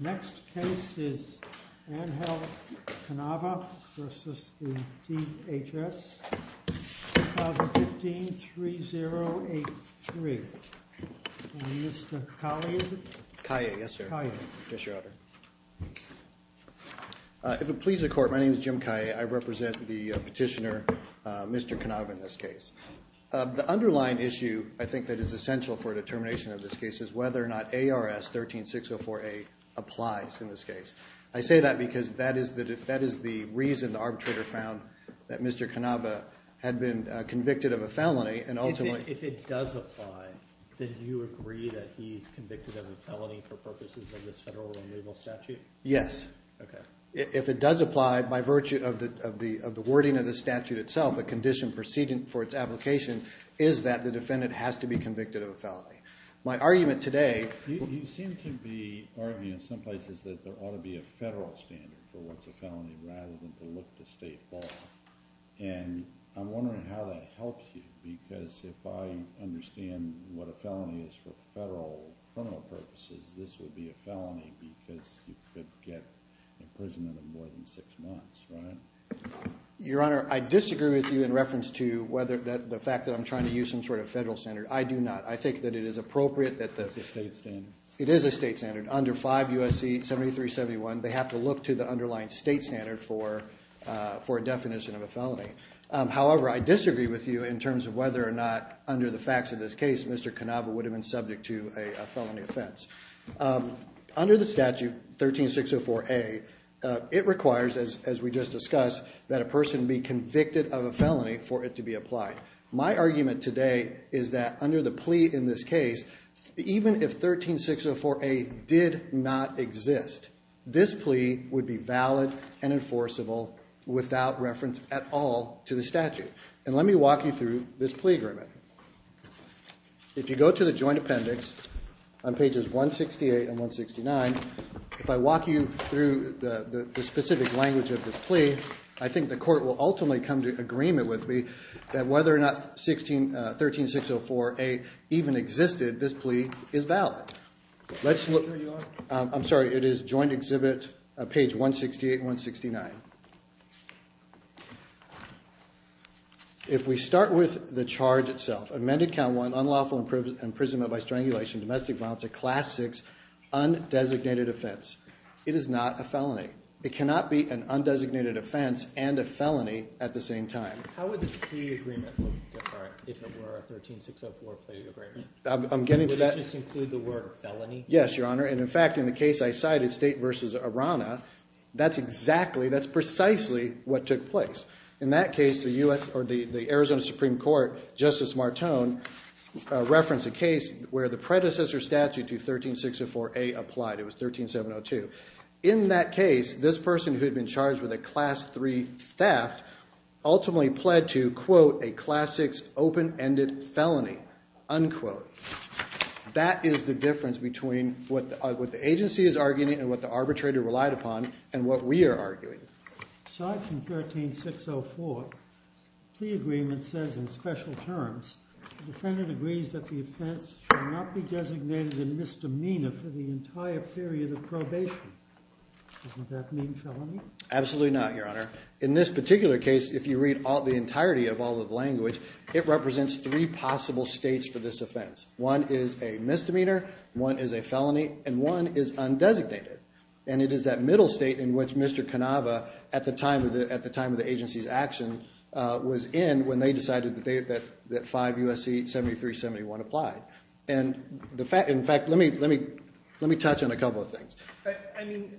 The next case is Angel Canava v. DHS. If it pleases the court, my name is Jim Kaye. I represent the petitioner, Mr. Canava, in this case. The underlying issue, I think, that is essential for determination of this case is whether or not ARS 13604A applies in this case. I say that because that is the reason the arbitrator found that Mr. Canava had been convicted of a felony and ultimately— If it does apply, then do you agree that he's convicted of a felony for purposes of this federal and legal statute? Yes. Okay. If it does apply by virtue of the wording of the statute itself, a condition proceeding for its application, is that the defendant has to be convicted of a felony. You seem to be arguing in some places that there ought to be a federal standard for what's a felony rather than to look to state law. And I'm wondering how that helps you, because if I understand what a felony is for federal criminal purposes, this would be a felony because you could get imprisoned for more than six months, right? Your Honor, I disagree with you in reference to the fact that I'm trying to use some sort of federal standard. I do not. I think that it is appropriate that the— It's a state standard. It is a state standard. Under 5 U.S.C. 7371, they have to look to the underlying state standard for a definition of a felony. However, I disagree with you in terms of whether or not, under the facts of this case, Mr. Canava would have been subject to a felony offense. Under the statute, 13604A, it requires, as we just discussed, that a person be convicted of a felony for it to be applied. My argument today is that under the plea in this case, even if 13604A did not exist, this plea would be valid and enforceable without reference at all to the statute. And let me walk you through this plea agreement. If you go to the joint appendix on pages 168 and 169, if I walk you through the specific language of this plea, I think the court will ultimately come to agreement with me that whether or not 13604A even existed, this plea is valid. Let's look— I'm sorry. It is joint exhibit page 168 and 169. If we start with the charge itself, amended count one, unlawful imprisonment by strangulation, domestic violence at class six, undesignated offense, it is not a felony. It cannot be an undesignated offense and a felony at the same time. How would this plea agreement look different if it were a 13604 plea agreement? I'm getting to that— Would it just include the word felony? Yes, Your Honor. And in fact, in the case I cited, State v. Arana, that's exactly—that's precisely what took place. In that case, the U.S. or the Arizona Supreme Court, Justice Martone, referenced a case where the predecessor statute to 13604A applied. It was 13702. In that case, this person who had been charged with a class three theft ultimately pled to, quote, a class six open-ended felony, unquote. That is the difference between what the agency is arguing and what the arbitrator relied upon and what we are arguing. Aside from 13604, plea agreement says in special terms the defendant agrees that the offense should not be designated a misdemeanor for the entire period of probation. Doesn't that mean felony? Absolutely not, Your Honor. In this particular case, if you read the entirety of all of the language, it represents three possible states for this offense. One is a misdemeanor, one is a felony, and one is undesignated. And it is that middle state in which Mr. Canava, at the time of the agency's action, was in when they decided that 5 U.S.C. 7371 applied. And, in fact, let me touch on a couple of things. I mean,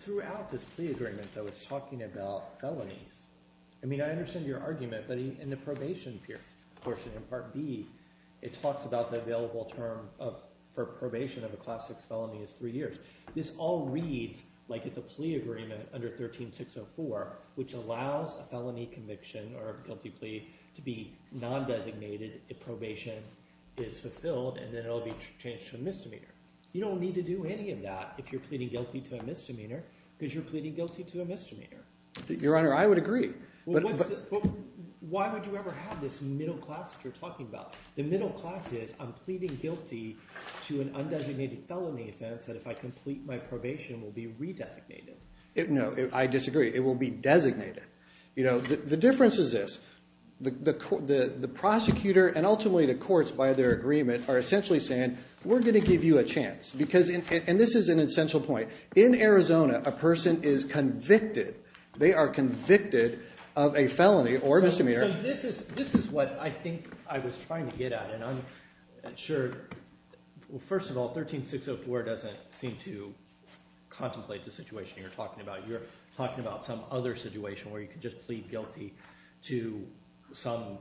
throughout this plea agreement, though, it's talking about felonies. I mean, I understand your argument, but in the probation period portion in Part B, it talks about the available term for probation of a class six felony is three years. This all reads like it's a plea agreement under 13604, which allows a felony conviction or a guilty plea to be nondesignated if probation is fulfilled and then it will be changed to a misdemeanor. You don't need to do any of that if you're pleading guilty to a misdemeanor because you're pleading guilty to a misdemeanor. Your Honor, I would agree. But why would you ever have this middle class that you're talking about? The middle class is I'm pleading guilty to an undesignated felony offense that if I complete my probation will be redesignated. No, I disagree. It will be designated. The difference is this. The prosecutor and ultimately the courts, by their agreement, are essentially saying we're going to give you a chance. And this is an essential point. In Arizona, a person is convicted. They are convicted of a felony or misdemeanor. So this is what I think I was trying to get at. And I'm sure first of all, 13604 doesn't seem to contemplate the situation you're talking about. You're talking about some other situation where you can just plead guilty to some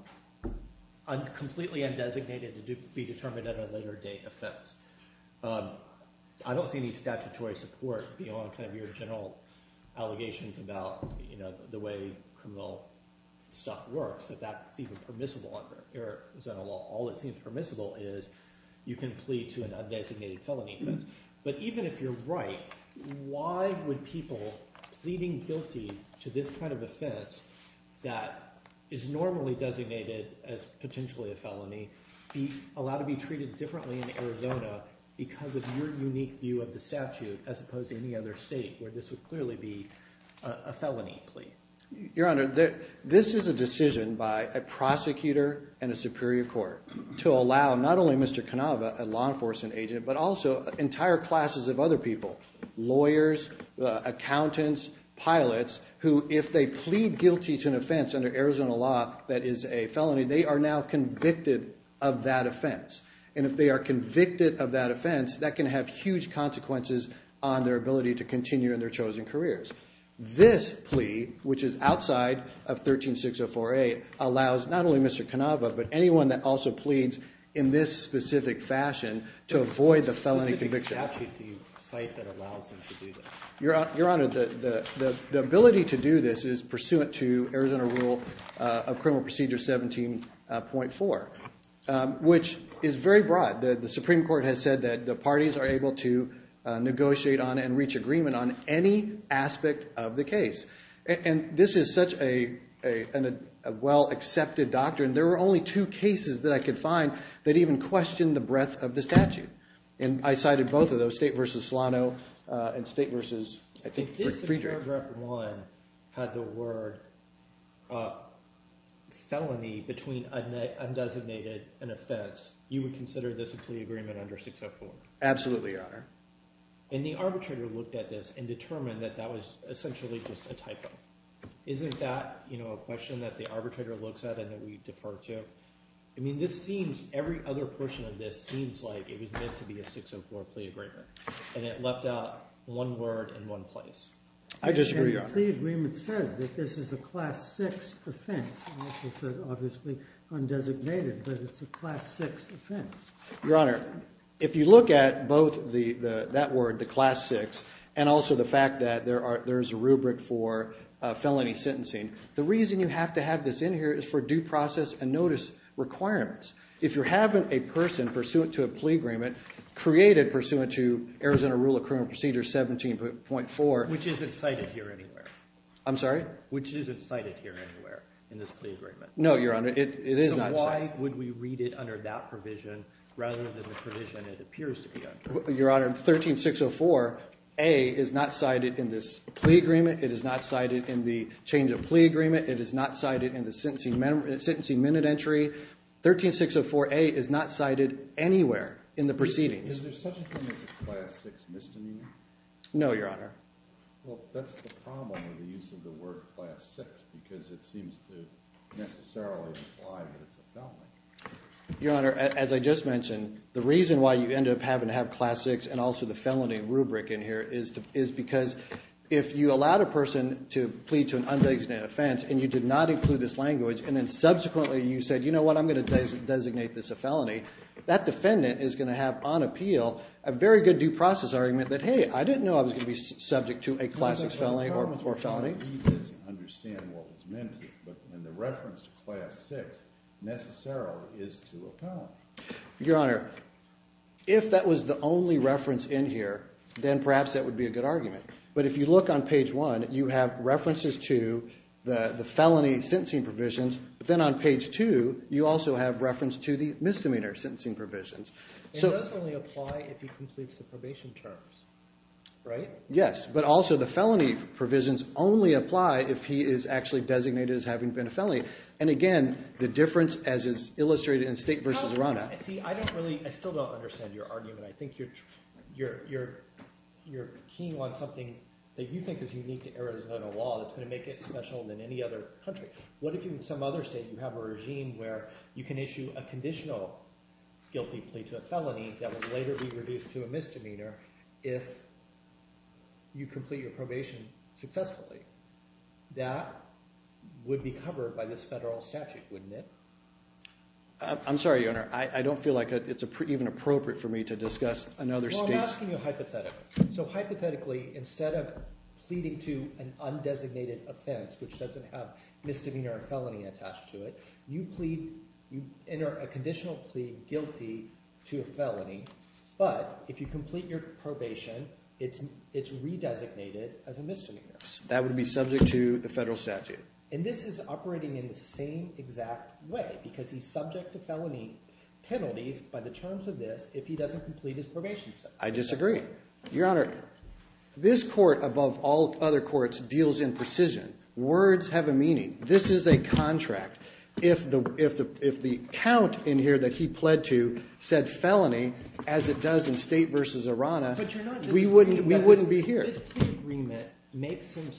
completely undesignated to be determined at a later date offense. I don't see any statutory support beyond kind of your general allegations about the way criminal stuff works, that that's even permissible under Arizona law. All that seems permissible is you can plead to an undesignated felony offense. But even if you're right, why would people pleading guilty to this kind of offense that is normally designated as potentially a felony be allowed to be treated differently in Arizona because of your unique view of the statute as opposed to any other state where this would clearly be a felony plea? Your Honor, this is a decision by a prosecutor and a superior court to allow not only Mr. Canova, a law enforcement agent, but also entire classes of other people, lawyers, accountants, pilots, who if they plead guilty to an offense under Arizona law that is a felony, they are now convicted of that offense. And if they are convicted of that offense, that can have huge consequences on their ability to continue in their chosen careers. This plea, which is outside of 13604A, allows not only Mr. Canova, but anyone that also pleads in this specific fashion to avoid the felony conviction. What specific statute do you cite that allows them to do this? Your Honor, the ability to do this is pursuant to Arizona rule of criminal procedure 17.4, which is very broad. The Supreme Court has said that the parties are able to negotiate on and reach agreement on any aspect of the case. And this is such a well-accepted doctrine. There were only two cases that I could find that even questioned the breadth of the statute. And I cited both of those, State v. Solano and State v. Friedrich. If this paragraph 1 had the word felony between undesignated and offense, you would consider this a plea agreement under 604? Absolutely, Your Honor. And the arbitrator looked at this and determined that that was essentially just a typo. Isn't that a question that the arbitrator looks at and that we defer to? I mean, every other portion of this seems like it was meant to be a 604 plea agreement. And it left out one word and one place. I disagree, Your Honor. The plea agreement says that this is a class 6 offense. It also says, obviously, undesignated, but it's a class 6 offense. Your Honor, if you look at both that word, the class 6, and also the fact that there is a rubric for felony sentencing, the reason you have to have this in here is for due process and notice requirements. If you're having a person pursuant to a plea agreement created pursuant to Arizona Rule of Criminal Procedure 17.4 Which isn't cited here anywhere. I'm sorry? Which isn't cited here anywhere in this plea agreement. No, Your Honor, it is not cited. So why would we read it under that provision rather than the provision it appears to be under? Your Honor, 13604A is not cited in this plea agreement. It is not cited in the change of plea agreement. It is not cited in the sentencing minute entry. 13604A is not cited anywhere in the proceedings. Is there such a thing as a class 6 misdemeanor? No, Your Honor. Well, that's the problem with the use of the word class 6 because it seems to necessarily imply that it's a felony. Your Honor, as I just mentioned, the reason why you end up having to have class 6 and also the felony rubric in here is because if you allowed a person to plead to an undesignated offense and you did not include this language and then subsequently you said, you know what, I'm going to designate this a felony, that defendant is going to have on appeal a very good due process argument that, hey, I didn't know I was going to be subject to a class 6 felony or felony. He doesn't understand what was meant. And the reference to class 6 necessarily is to a felony. Your Honor, if that was the only reference in here, then perhaps that would be a good argument. But if you look on page 1, you have references to the felony sentencing provisions. But then on page 2, you also have reference to the misdemeanor sentencing provisions. It does only apply if he completes the probation terms, right? Yes, but also the felony provisions only apply if he is actually designated as having been a felony. And again, the difference as is illustrated in State v. Iran Act. See, I don't really – I still don't understand your argument. I think you're keen on something that you think is unique to Arizona law that's going to make it special than any other country. What if in some other state you have a regime where you can issue a conditional guilty plea to a felony that will later be reduced to a misdemeanor if you complete your probation successfully? That would be covered by this federal statute, wouldn't it? I'm sorry, Your Honor. I don't feel like it's even appropriate for me to discuss another state's – Well, I'm asking you hypothetically. So hypothetically, instead of pleading to an undesignated offense which doesn't have misdemeanor or felony attached to it, you plead – you enter a conditional plea guilty to a felony. But if you complete your probation, it's redesignated as a misdemeanor. That would be subject to the federal statute. And this is operating in the same exact way because he's subject to felony penalties by the terms of this if he doesn't complete his probation status. I disagree. Your Honor, this court above all other courts deals in precision. Words have a meaning. This is a contract. If the count in here that he pled to said felony as it does in State v. Arana, we wouldn't be here. This plea agreement makes him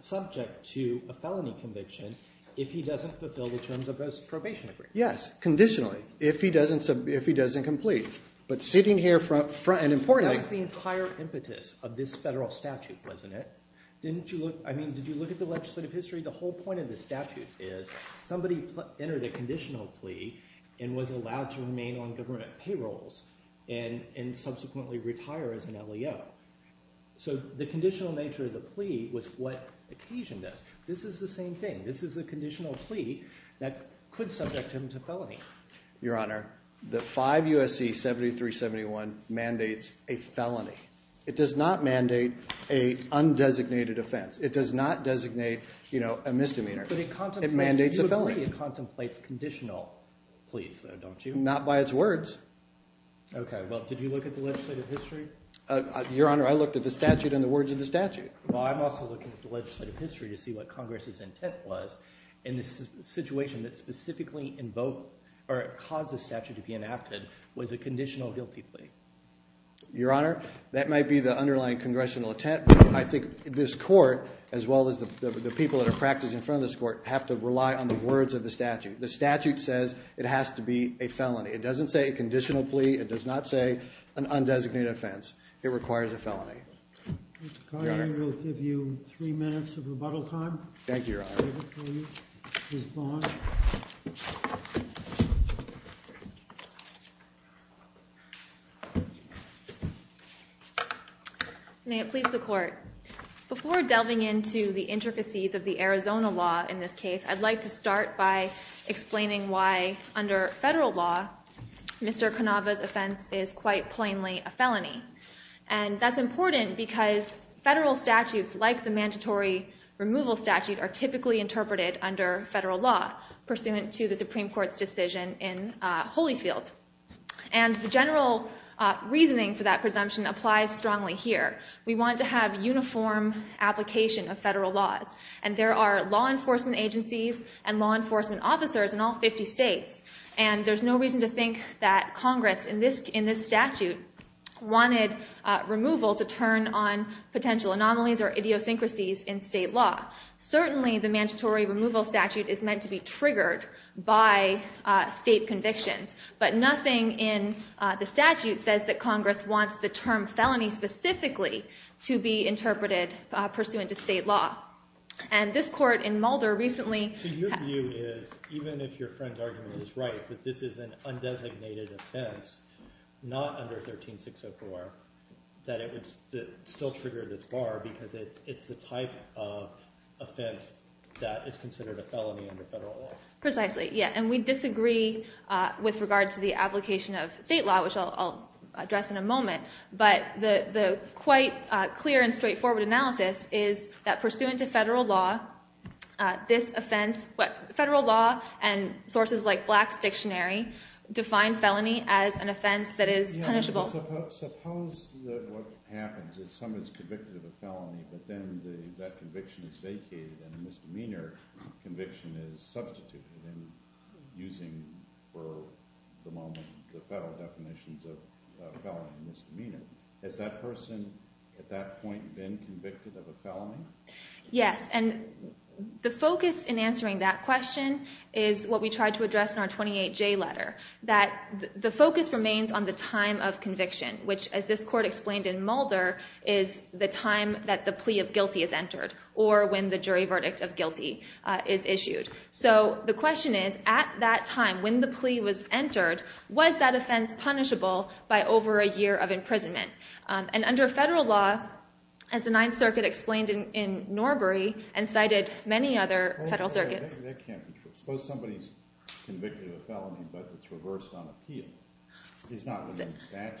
subject to a felony conviction if he doesn't fulfill the terms of his probation agreement. Yes, conditionally, if he doesn't complete. But sitting here – and importantly – That was the entire impetus of this federal statute, wasn't it? Didn't you look – I mean did you look at the legislative history? The whole point of the statute is somebody entered a conditional plea and was allowed to remain on government payrolls and subsequently retire as an LEO. So the conditional nature of the plea was what occasioned this. This is the same thing. This is a conditional plea that could subject him to felony. Your Honor, the 5 U.S.C. 7371 mandates a felony. It does not mandate an undesignated offense. It does not designate a misdemeanor. It mandates a felony. But you agree it contemplates conditional pleas, though, don't you? Not by its words. Okay, well, did you look at the legislative history? Your Honor, I looked at the statute and the words of the statute. Well, I'm also looking at the legislative history to see what Congress's intent was in this situation that specifically invoked or caused this statute to be enacted was a conditional guilty plea. Your Honor, that might be the underlying congressional intent, but I think this court, as well as the people that are practicing in front of this court, have to rely on the words of the statute. The statute says it has to be a felony. It doesn't say a conditional plea. It does not say an undesignated offense. It requires a felony. Mr. Carney, I will give you three minutes of rebuttal time. Thank you, Your Honor. Ms. Bond? May it please the Court. Before delving into the intricacies of the Arizona law in this case, I'd like to start by explaining why, under federal law, Mr. Cannava's offense is quite plainly a felony. And that's important because federal statutes, like the mandatory removal statute, are typically interpreted under federal law pursuant to the Supreme Court's decision in Holyfield. And the general reasoning for that presumption applies strongly here. We want to have uniform application of federal laws. And there are law enforcement agencies and law enforcement officers in all 50 states. And there's no reason to think that Congress, in this statute, wanted removal to turn on potential anomalies or idiosyncrasies in state law. Certainly, the mandatory removal statute is meant to be triggered by state convictions. But nothing in the statute says that Congress wants the term felony specifically to be interpreted pursuant to state law. And this court in Mulder recently— Even if your friend's argument is right, that this is an undesignated offense, not under 13604, that it would still trigger this bar because it's the type of offense that is considered a felony under federal law. Precisely, yeah. And we disagree with regard to the application of state law, which I'll address in a moment. But the quite clear and straightforward analysis is that pursuant to federal law, this offense—federal law and sources like Black's Dictionary define felony as an offense that is punishable. Suppose what happens is someone is convicted of a felony, but then that conviction is vacated and a misdemeanor conviction is substituted and using, for the moment, the federal definitions of felony and misdemeanor. Has that person at that point been convicted of a felony? Yes. And the focus in answering that question is what we tried to address in our 28J letter. That the focus remains on the time of conviction, which, as this court explained in Mulder, is the time that the plea of guilty is entered or when the jury verdict of guilty is issued. So the question is, at that time, when the plea was entered, was that offense punishable by over a year of imprisonment? And under federal law, as the Ninth Circuit explained in Norbury and cited many other federal circuits— It's not in the statute, right?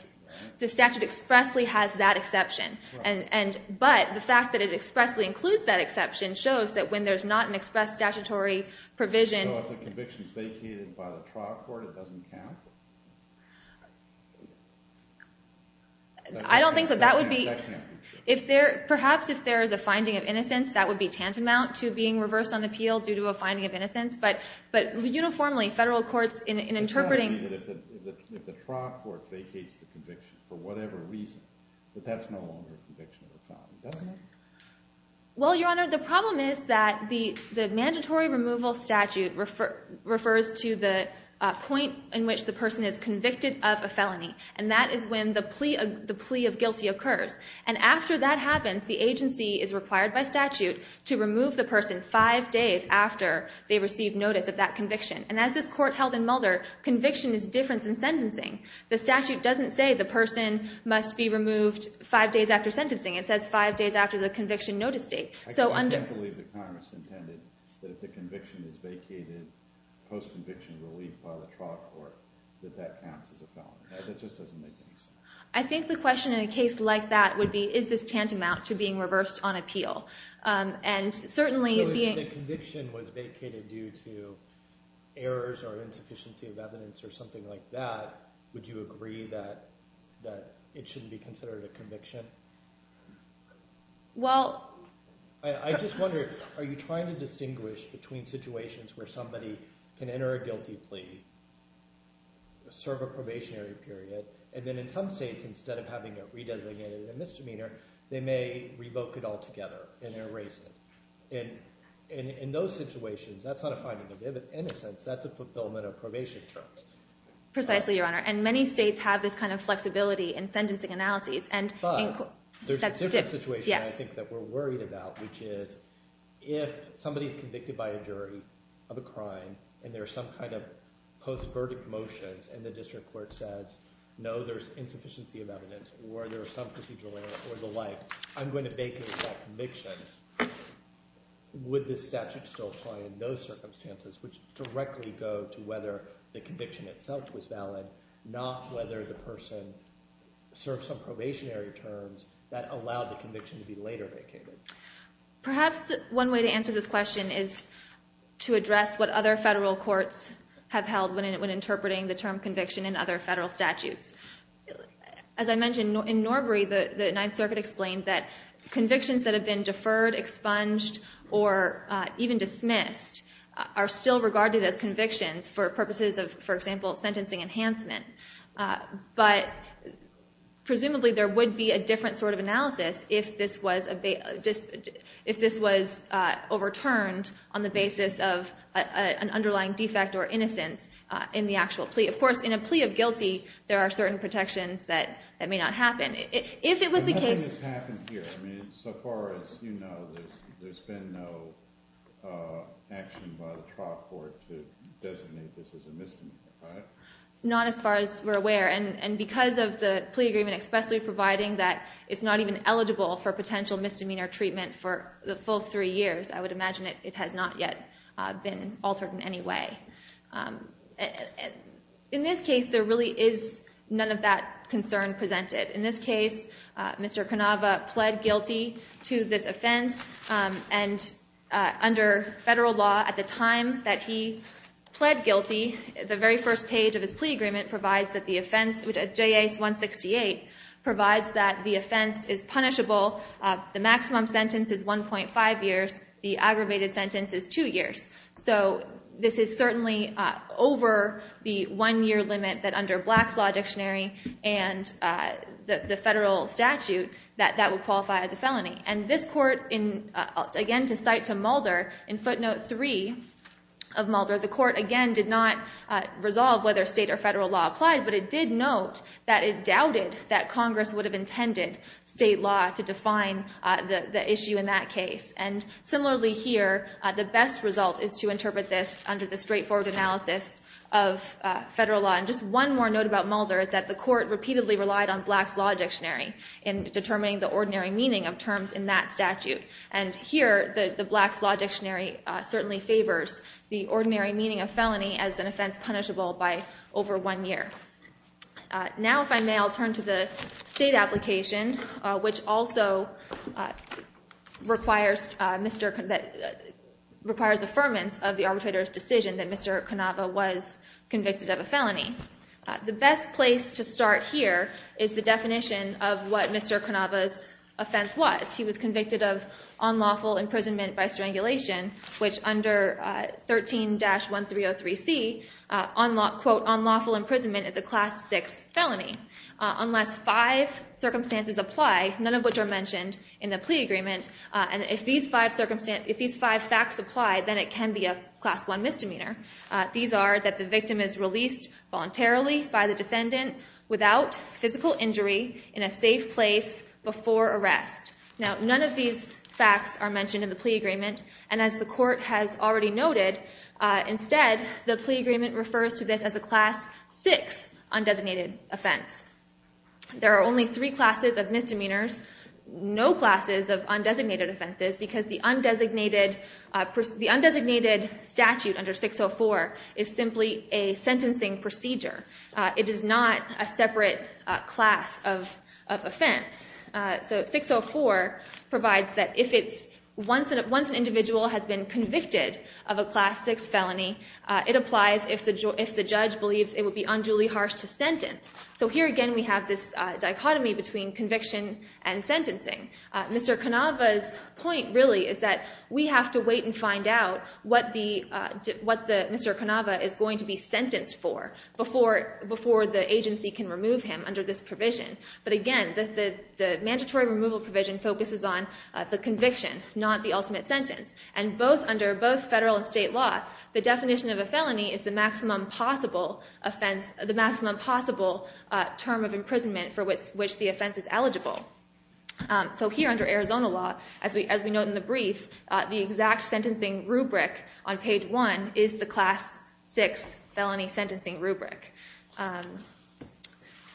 The statute expressly has that exception. But the fact that it expressly includes that exception shows that when there's not an express statutory provision— So if the conviction is vacated by the trial court, it doesn't count? I don't think so. That would be— That can't be true. Perhaps if there is a finding of innocence, that would be tantamount to being reversed on appeal due to a finding of innocence. But uniformly, federal courts, in interpreting— It's got to be that if the trial court vacates the conviction for whatever reason, that that's no longer a conviction of a felony, doesn't it? Well, Your Honor, the problem is that the mandatory removal statute refers to the point in which the person is convicted of a felony. And that is when the plea of guilty occurs. And after that happens, the agency is required by statute to remove the person five days after they receive notice of that conviction. And as this Court held in Mulder, conviction is different than sentencing. The statute doesn't say the person must be removed five days after sentencing. It says five days after the conviction notice date. I can't believe that Congress intended that if the conviction is vacated post-conviction relief by the trial court, that that counts as a felony. That just doesn't make any sense. I think the question in a case like that would be, is this tantamount to being reversed on appeal? And certainly— So if the conviction was vacated due to errors or insufficiency of evidence or something like that, would you agree that it shouldn't be considered a conviction? Well— I just wonder, are you trying to distinguish between situations where somebody can enter a guilty plea, serve a probationary period, and then in some states, instead of having it re-designated a misdemeanor, they may revoke it altogether and erase it? In those situations, that's not a finding of innocence. That's a fulfillment of probation terms. Precisely, Your Honor. And many states have this kind of flexibility in sentencing analyses. But there's a different situation I think that we're worried about, which is if somebody is convicted by a jury of a crime, and there are some kind of post-verdict motions, and the district court says, no, there's insufficiency of evidence or there's some procedural error or the like, I'm going to vacate that conviction, would the statute still apply in those circumstances, which directly go to whether the conviction itself was valid, not whether the person served some probationary terms that allowed the conviction to be later vacated? Perhaps one way to answer this question is to address what other federal courts have held when interpreting the term conviction in other federal statutes. As I mentioned, in Norbury, the Ninth Circuit explained that convictions that have been deferred, expunged, or even dismissed are still regarded as convictions for purposes of, for example, sentencing enhancement. But presumably there would be a different sort of analysis if this was overturned on the basis of an underlying defect or innocence in the actual plea. Of course, in a plea of guilty, there are certain protections that may not happen. Nothing has happened here. So far as you know, there's been no action by the trial court to designate this as a misdemeanor, right? Not as far as we're aware. And because of the plea agreement expressly providing that it's not even eligible for potential misdemeanor treatment for the full three years, I would imagine it has not yet been altered in any way. In this case, there really is none of that concern presented. In this case, Mr. Canova pled guilty to this offense. And under federal law, at the time that he pled guilty, the very first page of his plea agreement provides that the offense, J.A. 168, provides that the offense is punishable. The maximum sentence is 1.5 years. The aggravated sentence is two years. So this is certainly over the one-year limit that under Black's Law Dictionary and the federal statute that that would qualify as a felony. And this court, again, to cite to Mulder, in footnote three of Mulder, the court, again, did not resolve whether state or federal law applied, but it did note that it doubted that Congress would have intended state law to define the issue in that case. And similarly here, the best result is to interpret this under the straightforward analysis of federal law. And just one more note about Mulder is that the court repeatedly relied on Black's Law Dictionary in determining the ordinary meaning of terms in that statute. And here, the Black's Law Dictionary certainly favors the ordinary meaning of felony as an offense punishable by over one year. Now, if I may, I'll turn to the state application, which also requires affirmance of the arbitrator's decision that Mr. Cannava was convicted of a felony. The best place to start here is the definition of what Mr. Cannava's offense was. He was convicted of unlawful imprisonment by strangulation, which under 13-1303C, quote, unlawful imprisonment is a class six felony unless five circumstances apply, none of which are mentioned in the plea agreement. And if these five facts apply, then it can be a class one misdemeanor. These are that the victim is released voluntarily by the defendant without physical injury in a safe place before arrest. Now, none of these facts are mentioned in the plea agreement. And as the court has already noted, instead, the plea agreement refers to this as a class six undesignated offense. There are only three classes of misdemeanors, no classes of undesignated offenses, because the undesignated statute under 604 is simply a sentencing procedure. It is not a separate class of offense. So 604 provides that once an individual has been convicted of a class six felony, it applies if the judge believes it would be unduly harsh to sentence. So here again we have this dichotomy between conviction and sentencing. Mr. Cannava's point really is that we have to wait and find out what Mr. Cannava is going to be sentenced for before the agency can remove him under this provision. But again, the mandatory removal provision focuses on the conviction, not the ultimate sentence. And under both federal and state law, the definition of a felony is the maximum possible term of imprisonment for which the offense is eligible. So here under Arizona law, as we note in the brief, the exact sentencing rubric on page one is the class six felony sentencing rubric.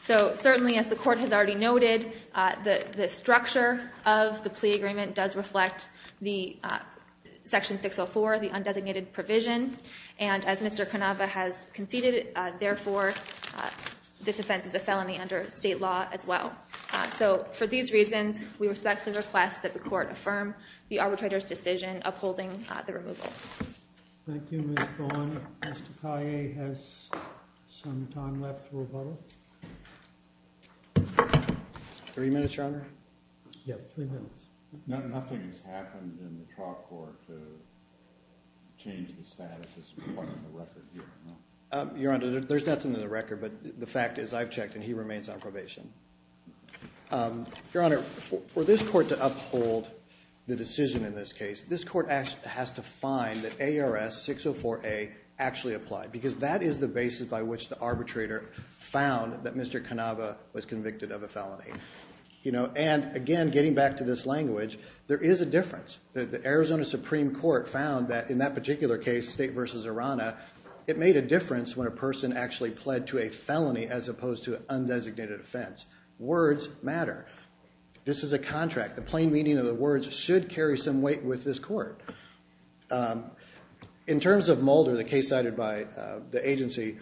So certainly as the court has already noted, the structure of the plea agreement does reflect Section 604, the undesignated provision. And as Mr. Cannava has conceded, therefore, this offense is a felony under state law as well. So for these reasons, we respectfully request that the court affirm the arbitrator's decision upholding the removal. Thank you, Ms. Braun. Mr. Kaye has some time left to rebuttal. Three minutes, Your Honor. Yes, three minutes. Nothing has happened in the trial court to change the status as part of the record here. Your Honor, there's nothing in the record, but the fact is I've checked and he remains on probation. Your Honor, for this court to uphold the decision in this case, this court has to find that ARS 604A actually applied, because that is the basis by which the arbitrator found that Mr. Cannava was convicted of a felony. And again, getting back to this language, there is a difference. The Arizona Supreme Court found that in that particular case, State v. Arana, it made a difference when a person actually pled to a felony as opposed to an undesignated offense. Words matter. This is a contract. The plain meaning of the words should carry some weight with this court. In terms of Mulder, the case cited by the agency,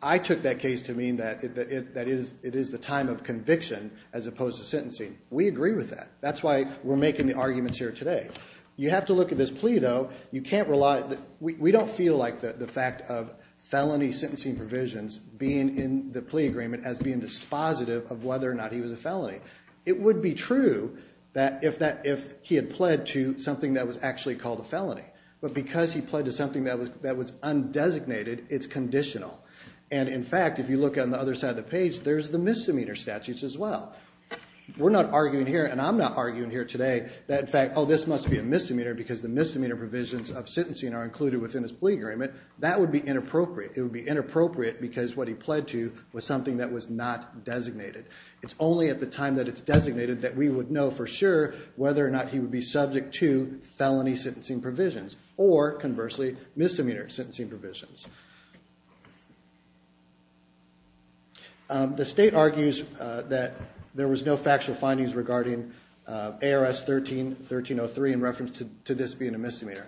I took that case to mean that it is the time of conviction as opposed to sentencing. We agree with that. That's why we're making the arguments here today. You have to look at this plea, though. You can't rely – we don't feel like the fact of felony sentencing provisions being in the plea agreement as being dispositive of whether or not he was a felony. It would be true that if he had pled to something that was actually called a felony, but because he pled to something that was undesignated, it's conditional. And in fact, if you look on the other side of the page, there's the misdemeanor statutes as well. We're not arguing here, and I'm not arguing here today, that in fact, oh, this must be a misdemeanor because the misdemeanor provisions of sentencing are included within his plea agreement. That would be inappropriate. It would be inappropriate because what he pled to was something that was not designated. It's only at the time that it's designated that we would know for sure whether or not he would be subject to felony sentencing provisions or, conversely, misdemeanor sentencing provisions. The state argues that there was no factual findings regarding ARS 13-1303 in reference to this being a misdemeanor.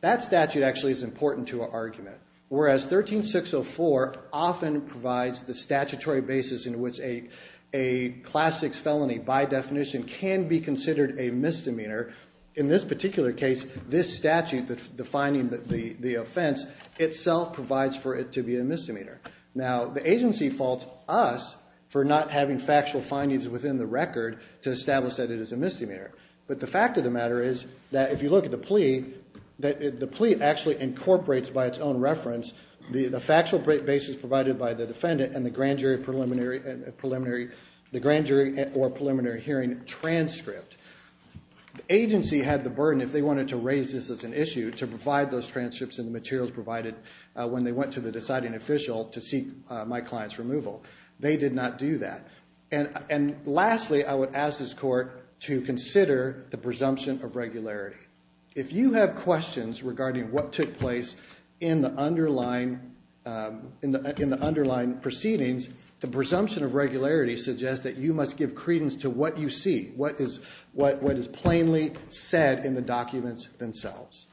That statute actually is important to our argument. Whereas 13-604 often provides the statutory basis in which a Class 6 felony, by definition, can be considered a misdemeanor. In this particular case, this statute, the finding, the offense, itself provides for it to be a misdemeanor. Now, the agency faults us for not having factual findings within the record to establish that it is a misdemeanor. But the fact of the matter is that if you look at the plea, the plea actually incorporates by its own reference the factual basis provided by the defendant and the grand jury or preliminary hearing transcript. The agency had the burden, if they wanted to raise this as an issue, to provide those transcripts and the materials provided when they went to the deciding official to seek my client's removal. They did not do that. And lastly, I would ask this Court to consider the presumption of regularity. If you have questions regarding what took place in the underlying proceedings, the presumption of regularity suggests that you must give credence to what you see, what is plainly said in the documents themselves.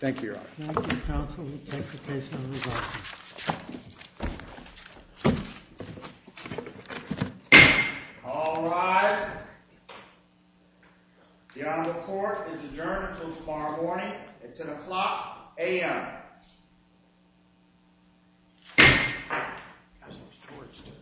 Thank you, Your Honor. Thank you, counsel. We take the case on resumption. All rise. The Honorable Court is adjourned until tomorrow morning at 10 o'clock a.m. I have some swords, too.